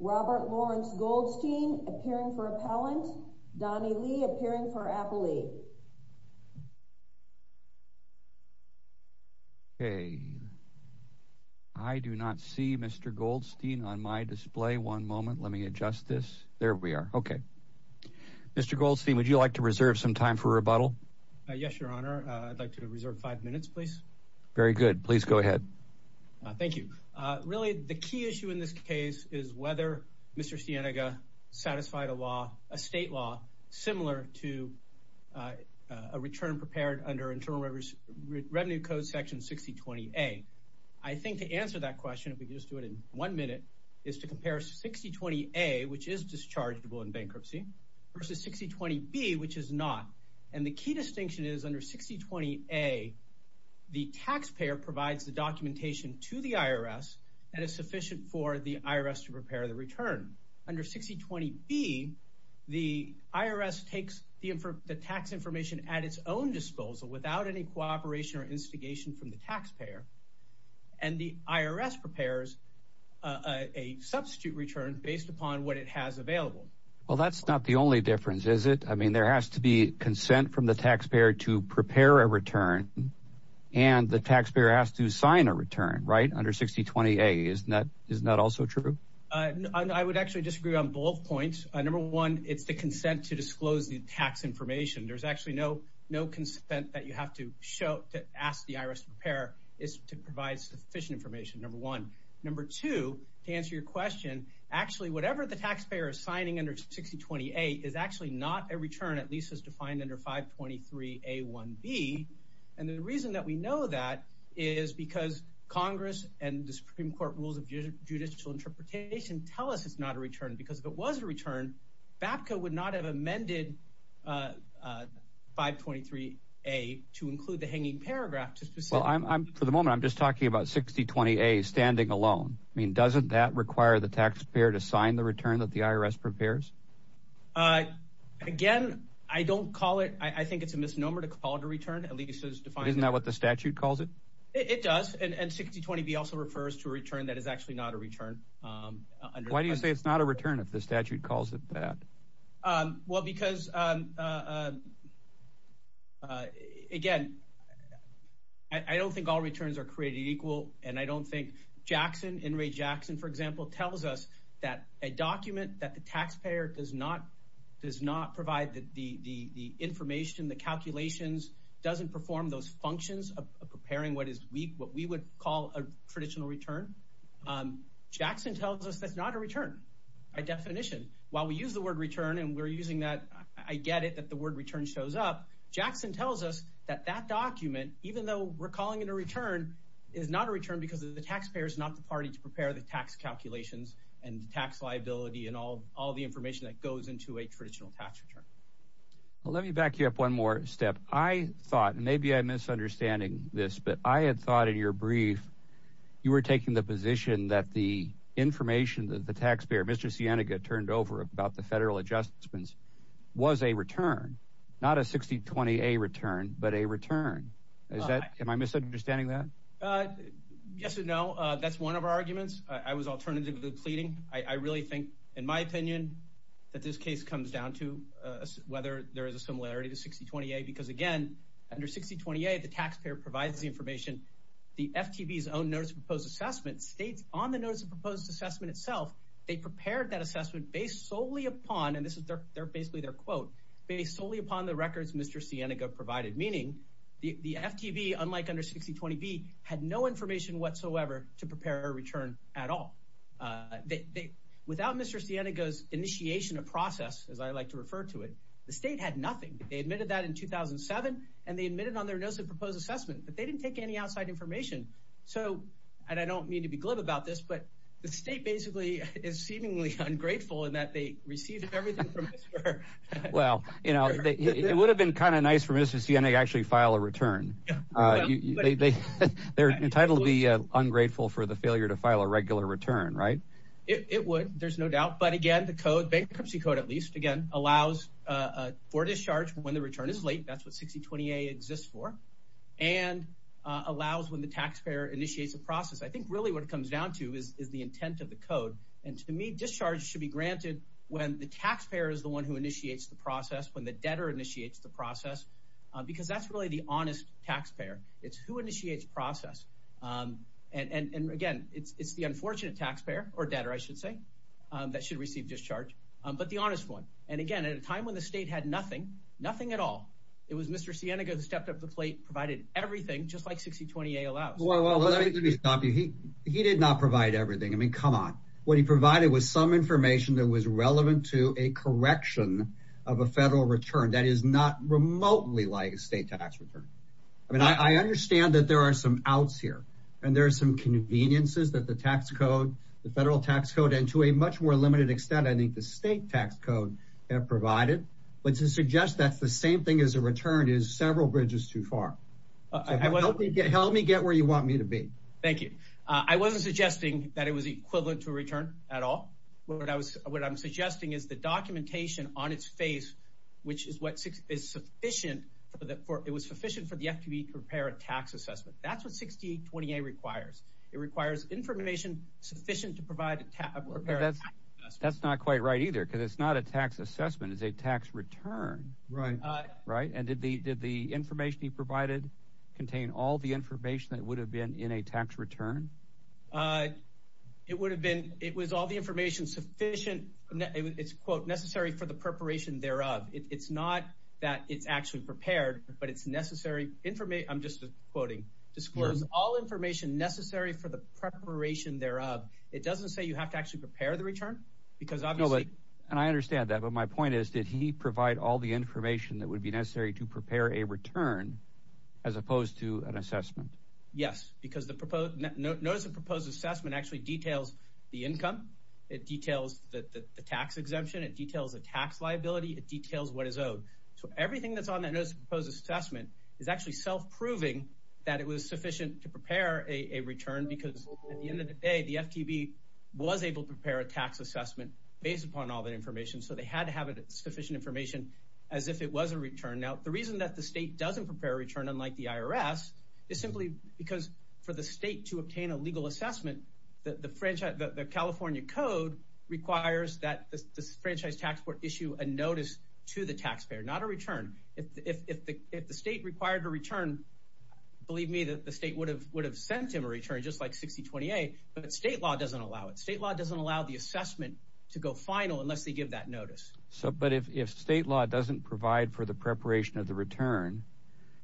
Robert Lawrence Goldstein appearing for appellant, Donnie Lee appearing for appellee. Okay, I do not see Mr. Goldstein on my display. One moment, let me adjust this. There we are. Okay. Mr. Goldstein, would you like to reserve some time for rebuttal? Yes, your honor. I would like to reserve five minutes, please. Very good. Please go ahead. Thank you. Really, the key issue in this case is whether Mr. Sienega satisfied a law, a state law similar to a return prepared under Internal Revenue Code section 6020A. I think to answer that question, if we could just do it in one minute, is to compare 6020A, which is dischargeable in bankruptcy, versus 6020B, which is not. The key distinction is under 6020A, the taxpayer provides the documentation to the IRS and is sufficient for the IRS to prepare the return. Under 6020B, the IRS takes the tax information at its own disposal without any cooperation or instigation from the taxpayer, and the IRS prepares a substitute return based upon what it has available. Well, that is not the only difference, is it? I mean, there has to be consent from the taxpayer to prepare a return, and the taxpayer has to sign a return, right? Under 6020A, isn't that also true? I would actually disagree on both points. Number one, it's the consent to disclose the tax information. There's actually no consent that you have to show to ask the IRS to prepare, is to provide sufficient information, number one. Number two, to answer your question, actually, whatever the taxpayer is signing under 6020A is actually not a return, at least as defined under 523A1B, and the reason that we know that is because Congress and the Supreme Court Rules of Judicial Interpretation tell us it's not a return, because if it was a return, BAPCA would not have amended 523A to include the hanging paragraph to specify. Well, for the moment, I'm just talking about 6020A standing alone. I mean, doesn't that require the taxpayer to sign the return that the IRS prepares? Again, I don't call it, I think it's a misnomer to call it a return, at least as defined. Isn't that what the statute calls it? It does, and 6020B also refers to a return that is actually not a return. Why do you say it's not a return if the statute calls it that? Well, because, again, I don't think all returns are created equal, and I don't think Jackson, In re Jackson, for example, tells us that a document that the taxpayer does not provide the information, the calculations, doesn't perform those functions of preparing what is what we would call a traditional return. Jackson tells us that's not a return by definition. While we use the word return, and we're using that, I get it that the word return shows up, Jackson tells us that that document, even though we're calling it a return, is not a return to prepare the tax calculations, and the tax liability, and all the information that goes into a traditional tax return. Well, let me back you up one more step. I thought, and maybe I'm misunderstanding this, but I had thought in your brief, you were taking the position that the information that the taxpayer, Mr. Sienega, turned over about the federal adjustments was a return, not a 6020A return, but a return. Am I misunderstanding that? Yes and no. That's one of our arguments. I was alternatively pleading. I really think, in my opinion, that this case comes down to whether there is a similarity to 6020A, because again, under 6020A, the taxpayer provides the information. The FTB's own notice of proposed assessment states on the notice of proposed assessment itself, they prepared that assessment based solely upon, and this is basically their quote, based solely upon the records Mr. Sienega provided, meaning the FTB, unlike under 6020B, had no information whatsoever to prepare a return at all. Without Mr. Sienega's initiation of process, as I like to refer to it, the state had nothing. They admitted that in 2007, and they admitted on their notice of proposed assessment that they didn't take any outside information, so, and I don't mean to be glib about this, but the state basically is seemingly ungrateful in that they received everything from Mr. Sienega. Well, you know, it would have been kind of nice for Mr. Sienega to actually file a return. They're entitled to be ungrateful for the failure to file a regular return, right? It would. There's no doubt. But again, the code, bankruptcy code at least, again, allows for discharge when the return is late. That's what 6020A exists for, and allows when the taxpayer initiates a process. I think really what it comes down to is the intent of the code, and to me, discharge should be granted when the taxpayer is the one who initiates the process, when the debtor initiates the process, because that's really the honest taxpayer. It's who initiates process, and again, it's the unfortunate taxpayer, or debtor, I should say, that should receive discharge, but the honest one, and again, at a time when the state had nothing, nothing at all, it was Mr. Sienega who stepped up to the plate, provided everything, just like 6020A allows. Well, let me stop you. He did not provide everything. I mean, come on. What he provided was some information that was relevant to a correction of a federal return that is not remotely like a state tax return. I mean, I understand that there are some outs here, and there are some conveniences that the tax code, the federal tax code, and to a much more limited extent, I think the state tax code have provided, but to suggest that's the same thing as a return is several bridges too far. So help me get where you want me to be. Thank you. I wasn't suggesting that it was equivalent to a return at all. What I'm suggesting is the documentation on its face, which is what is sufficient for the FTE to prepare a tax assessment. That's what 6020A requires. It requires information sufficient to prepare a tax assessment. That's not quite right either, because it's not a tax assessment. It's a tax return, right? And did the information he provided contain all the information that would have been in a tax return? It would have been, it was all the information sufficient, it's quote, necessary for the preparation thereof. It's not that it's actually prepared, but it's necessary, I'm just quoting, disclose all information necessary for the preparation thereof. It doesn't say you have to actually prepare the return, because obviously. And I understand that, but my point is, did he provide all the information that would be necessary to prepare a return as opposed to an assessment? Yes, because the notice of proposed assessment actually details the income. It details the tax exemption, it details the tax liability, it details what is owed. So everything that's on that notice of proposed assessment is actually self-proving that it was sufficient to prepare a return, because at the end of the day, the FTB was able to prepare a tax assessment based upon all that information. So they had to have sufficient information as if it was a return. Now, the reason that the state doesn't prepare a return, unlike the IRS, is simply because for the state to obtain a legal assessment, the California code requires that the franchise tax court issue a notice to the taxpayer, not a return. If the state required a return, believe me, the state would have sent him a return just like 6028, but state law doesn't allow it. State law doesn't allow the assessment to go final unless they give that notice. But if state law doesn't provide for the preparation of the return,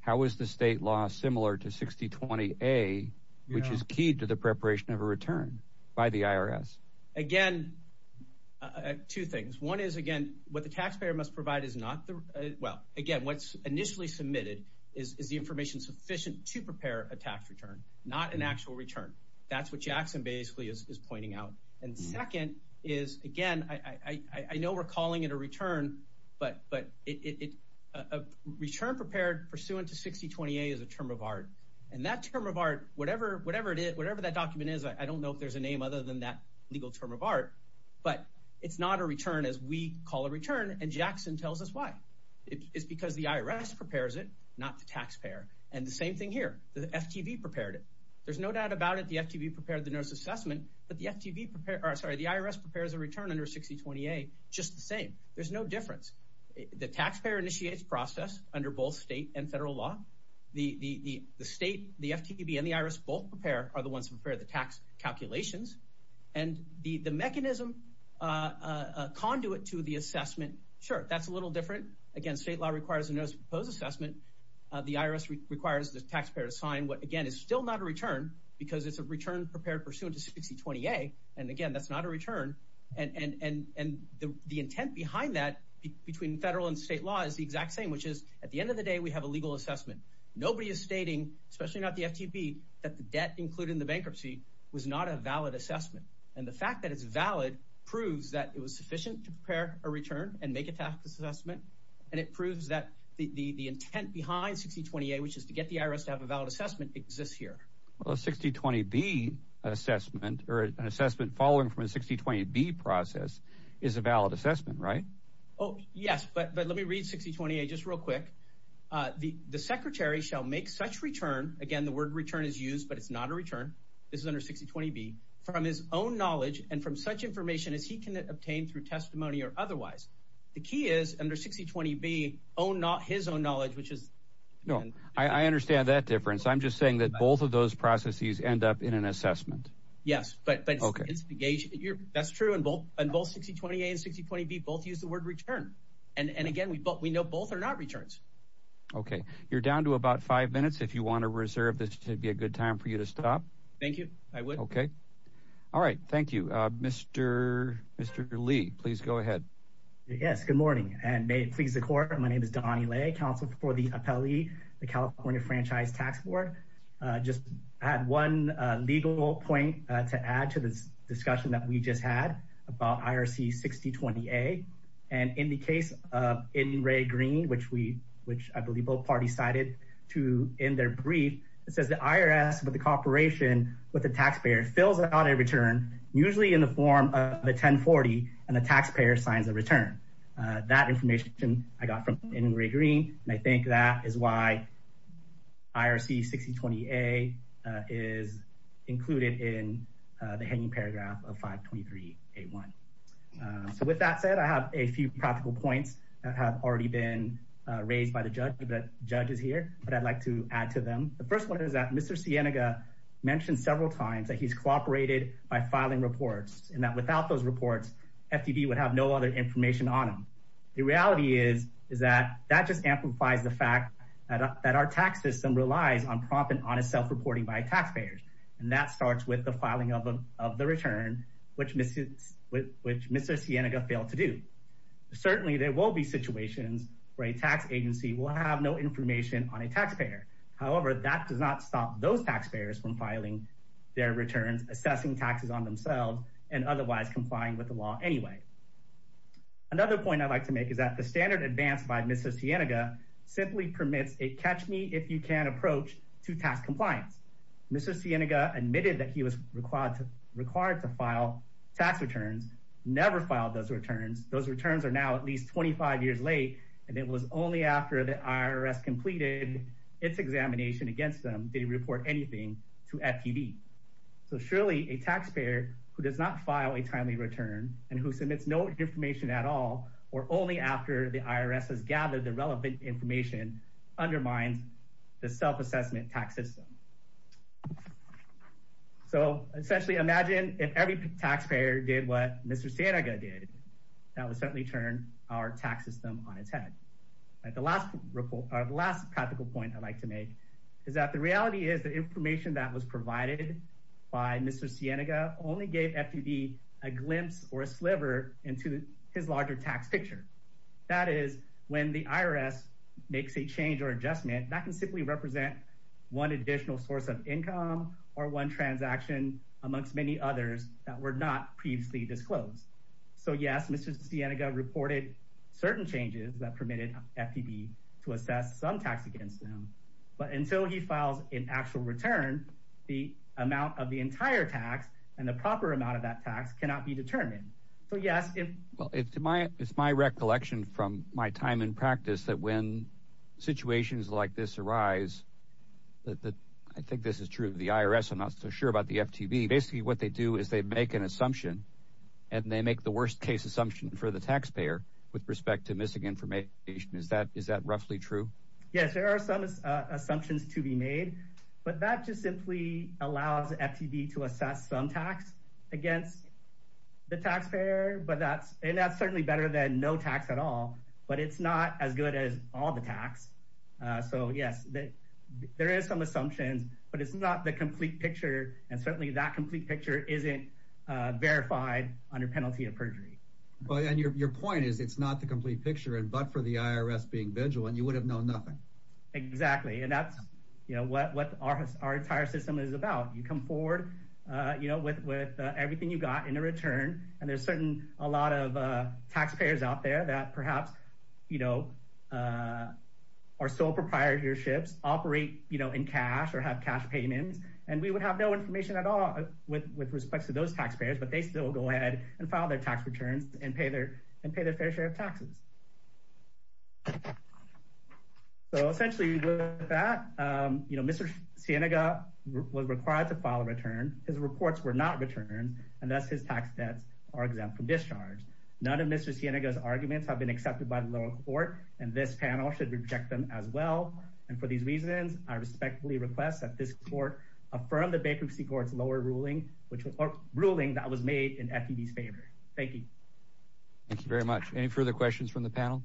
how is the state law similar to 6020A, which is key to the preparation of a return by the IRS? Again, two things. One is, again, what the taxpayer must provide is not the, well, again, what's initially submitted is the information sufficient to prepare a tax return, not an actual return. That's what Jackson basically is pointing out. And second is, again, I know we're calling it a return, but a return prepared pursuant to 6020A is a term of art. And that term of art, whatever that document is, I don't know if there's a name other than that legal term of art, but it's not a return as we call a return. And Jackson tells us why. It's because the IRS prepares it, not the taxpayer. And the same thing here. The FTV prepared it. There's no doubt about it, the FTV prepared the notice assessment, but the IRS prepares a return under 6020A just the same. There's no difference. The taxpayer initiates process under both state and federal law. The state, the FTB, and the IRS both prepare, are the ones who prepare the tax calculations. And the mechanism, conduit to the assessment, sure, that's a little different. Again, state law requires a notice of proposed assessment. The IRS requires the taxpayer to sign what, again, is still not a return because it's a return prepared pursuant to 6020A. And again, that's not a return. And the intent behind that between federal and state law is the exact same, which is at the end of the day, we have a legal assessment. Nobody is stating, especially not the FTP, that the debt included in the bankruptcy was not a valid assessment. And the fact that it's valid proves that it was sufficient to prepare a return and make a tax assessment. And it proves that the intent behind 6020A, which is to get the IRS to have a valid assessment, exists here. Well, a 6020B assessment, or an assessment following from a 6020B process, is a valid assessment, right? Oh, yes. But let me read 6020A just real quick. The secretary shall make such return, again, the word return is used, but it's not a return. This is under 6020B, from his own knowledge and from such information as he can obtain through testimony or otherwise. The key is, under 6020B, his own knowledge, which is... No, I understand that difference. I'm just saying that both of those processes end up in an assessment. Yes, but that's true in both 6020A and 6020B, both use the word return. And again, we know both are not returns. Okay, you're down to about five minutes if you want to reserve this to be a good time for you to stop. Thank you. I would. Okay. All right. Thank you. Mr. Lee, please go ahead. Yes, good morning. And may it please the court. My name is Donnie Lay, counsel for the appellee, the California Franchise Tax Board. Just add one legal point to add to this discussion that we just had about IRC 6020A. And in the case of in Ray Green, which I believe both parties cited to in their brief, it says the IRS, with the cooperation with the taxpayer, fills out a return, usually in the form of a 1040, and the taxpayer signs a return. That information I got from in Ray Green, and I think that is why IRC 6020A is included in the hanging paragraph of 523A1. So with that said, I have a few practical points that have already been raised by the judges here, but I'd like to add to them. The first one is that Mr. Cienega mentioned several times that he's cooperated by filing reports and that without those reports, FDB would have no other information on him. The reality is, is that that just amplifies the fact that our tax system relies on prompt and honest self-reporting by taxpayers. And that starts with the filing of the return, which Mr. Cienega failed to do. Certainly there will be situations where a tax agency will have no information on a taxpayer. However, that does not stop those taxpayers from filing their returns, assessing taxes on themselves, and otherwise complying with the law anyway. Another point I'd like to make is that the standard advanced by Mr. Cienega simply permits a catch-me-if-you-can approach to tax compliance. Mr. Cienega admitted that he was required to file tax returns, never filed those returns. Those returns are now at least 25 years late, and it was only after the IRS completed its examination against them, did he report anything to FDB. So surely a taxpayer who does not file a timely return and who submits no information at all, or only after the IRS has gathered the relevant information, undermines the self-assessment tax system. So, essentially imagine if every taxpayer did what Mr. Cienega did, that would certainly turn our tax system on its head. The last practical point I'd like to make is that the reality is the information that was provided by Mr. Cienega only gave FDB a glimpse or a sliver into his larger tax picture. That is, when the IRS makes a change or adjustment, that can simply represent one additional source of income or one transaction amongst many others that were not previously disclosed. So yes, Mr. Cienega reported certain changes that permitted FDB to assess some tax against them, but until he files an actual return, the amount of the entire tax and the proper amount of that tax cannot be determined. So yes, if... Well, it's my recollection from my time in practice that when situations like this arise, I think this is true, the IRS, I'm not so sure about the FDB, basically what they do is they make an assumption and they make the worst case assumption for the taxpayer with respect to missing information. Is that roughly true? Yes, there are some assumptions to be made, but that just simply allows FDB to assess some tax against the taxpayer, and that's certainly better than no tax at all, but it's not as good as all the tax. So yes, there is some assumptions, but it's not the complete picture, and certainly that complete picture isn't verified under penalty of perjury. Your point is it's not the complete picture, but for the IRS being vigilant, you would have known nothing. Exactly. And that's what our entire system is about. You come forward with everything you got in a return, and there's certainly a lot of taxpayers out there that perhaps are sole proprietorships, operate in cash or have cash payments, and we would have no information at all with respect to those taxpayers, but they still go ahead and file their tax returns and pay their fair share of taxes. So essentially, with that, you know, Mr. Cienega was required to file a return. His reports were not returned, and thus his tax debts are exempt from discharge. None of Mr. Cienega's arguments have been accepted by the lower court, and this panel should reject them as well, and for these reasons, I respectfully request that this court affirm the bankruptcy court's lower ruling that was made in FDB's favor. Thank you. Thank you very much. Any further questions from the panel?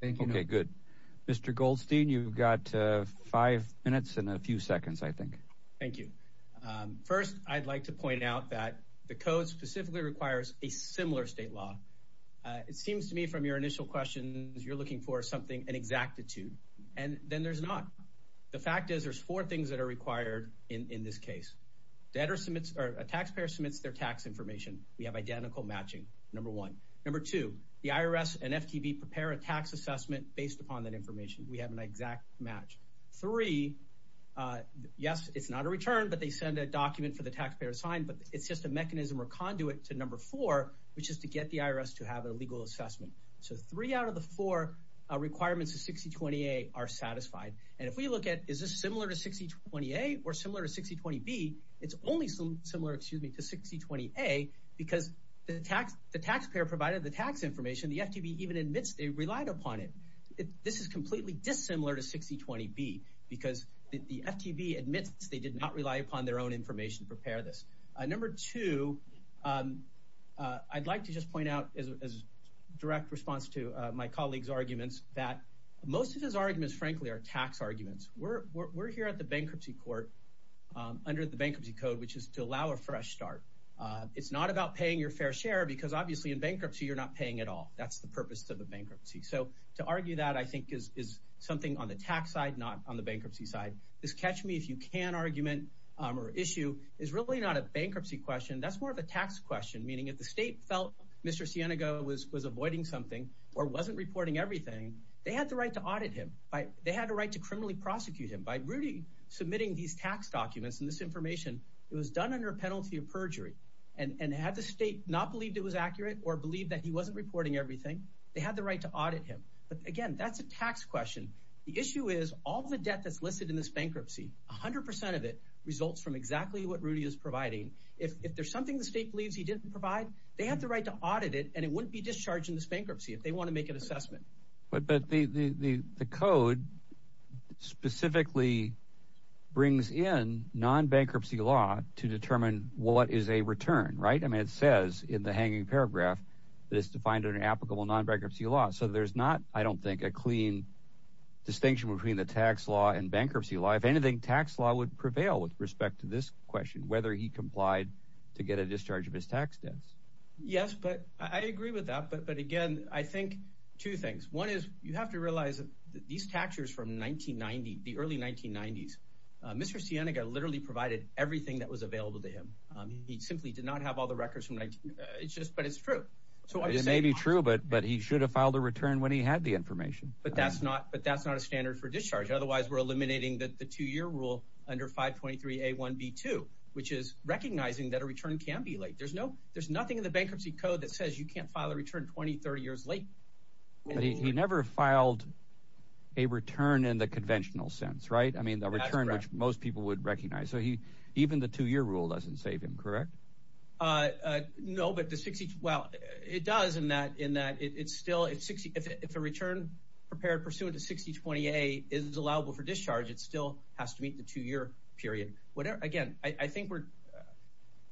Thank you. Okay, good. Mr. Goldstein, you've got five minutes and a few seconds, I think. Thank you. First, I'd like to point out that the code specifically requires a similar state law. It seems to me from your initial questions, you're looking for something, an exactitude, and then there's not. The fact is, there's four things that are required in this case. Debtor submits, or a taxpayer submits their tax information. We have identical matching, number one. Number two, the IRS and FTB prepare a tax assessment based upon that information. We have an exact match. Three, yes, it's not a return, but they send a document for the taxpayer to sign, but it's just a mechanism or conduit to number four, which is to get the IRS to have a legal assessment. So three out of the four requirements of 6020A are satisfied, and if we look at, is this similar to 6020A or similar to 6020B, it's only similar, excuse me, to 6020A, because the taxpayer provided the tax information. The FTB even admits they relied upon it. This is completely dissimilar to 6020B because the FTB admits they did not rely upon their own information to prepare this. Number two, I'd like to just point out as a direct response to my colleague's arguments that most of his arguments, frankly, are tax arguments. We're here at the bankruptcy court under the bankruptcy code, which is to allow a fresh start. It's not about paying your fair share because, obviously, in bankruptcy, you're not paying at all. That's the purpose of a bankruptcy. So to argue that, I think, is something on the tax side, not on the bankruptcy side. This catch-me-if-you-can argument or issue is really not a bankruptcy question. That's more of a tax question, meaning if the state felt Mr. Cienega was avoiding something or wasn't reporting everything, they had the right to audit him. They had the right to criminally prosecute him. By really submitting these tax documents and this information, it was done under a penalty of perjury. And had the state not believed it was accurate or believed that he wasn't reporting everything, they had the right to audit him. But, again, that's a tax question. The issue is all the debt that's listed in this bankruptcy, 100% of it results from exactly what Rudy is providing. If there's something the state believes he didn't provide, they have the right to audit it, and it wouldn't be discharged in this bankruptcy if they want to make an assessment. But the code specifically brings in non-bankruptcy law to determine what is a return, right? I mean, it says in the hanging paragraph that it's defined under applicable non-bankruptcy law. So there's not, I don't think, a clean distinction between the tax law and bankruptcy law. If anything, tax law would prevail with respect to this question, whether he complied to get a discharge of his tax debts. Yes, but I agree with that. But, again, I think two things. One is you have to realize that these tax years from 1990, the early 1990s, Mr. Sienega literally provided everything that was available to him. He simply did not have all the records from 19, but it's true. It may be true, but he should have filed a return when he had the information. But that's not a standard for discharge. Otherwise, we're eliminating the two-year rule under 523A1B2, which is recognizing that a return can be late. There's nothing in the bankruptcy code that says you can't file a return 20, 30 years late. But he never filed a return in the conventional sense, right? That's correct. I mean, a return which most people would recognize. So even the two-year rule doesn't save him, correct? No, but the 60, well, it does in that it's still, if a return prepared pursuant to 6020A is allowable for discharge, it still has to meet the two-year period. Again, I think we're,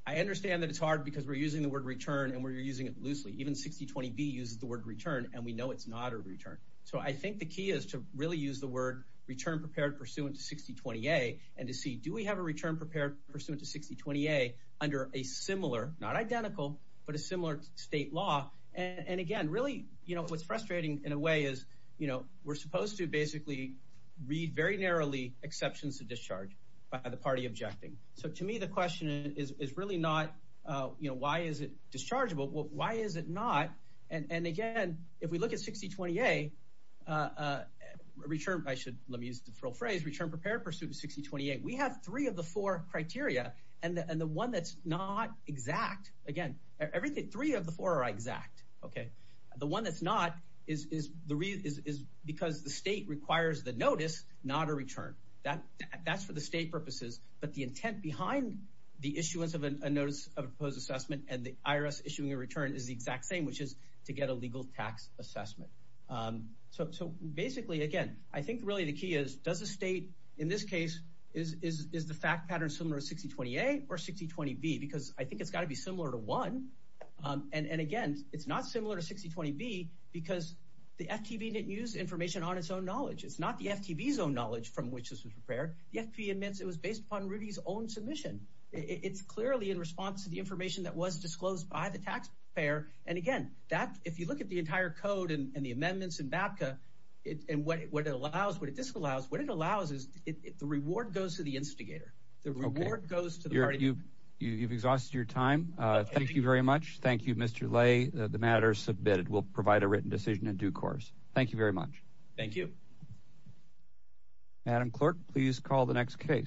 I understand that it's hard because we're using the word return and we're using it loosely. Even 6020B uses the word return, and we know it's not a return. So I think the key is to really use the word return prepared pursuant to 6020A and to see do we have a return prepared pursuant to 6020A under a similar, not identical, but a similar state law. And again, really, you know, what's frustrating in a way is, you know, we're supposed to basically read very narrowly exceptions to discharge by the party objecting. So to me, the question is really not, you know, why is it dischargeable? Why is it not? And again, if we look at 6020A, return, I should, let me use the phrase, return prepared pursuant to 6020A. We have three of the four criteria, and the one that's not exact, again, everything, three of the four are exact, okay? The one that's not is because the state requires the notice, not a return. That's for the state purposes. But the intent behind the issuance of a notice of a proposed assessment and the IRS issuing a return is the exact same, which is to get a legal tax assessment. So basically, again, I think really the key is, does the state, in this case, is the fact pattern similar to 6020A or 6020B? Because I think it's got to be similar to one. And again, it's not similar to 6020B because the FTB didn't use information on its own knowledge. It's not the FTB's own knowledge from which this was prepared. The FTB admits it was based upon Rudy's own submission. It's clearly in response to the information that was disclosed by the taxpayer. And again, that, if you look at the entire code and the amendments in BAPCA, and what it allows, what it disallows, what it allows is the reward goes to the instigator. The reward goes to the party. Okay. You've exhausted your time. Thank you very much. Thank you, Mr. Lay. The matter is submitted. We'll provide a written decision in due course. Thank you very much. Thank you. Madam Clerk, please call the next case.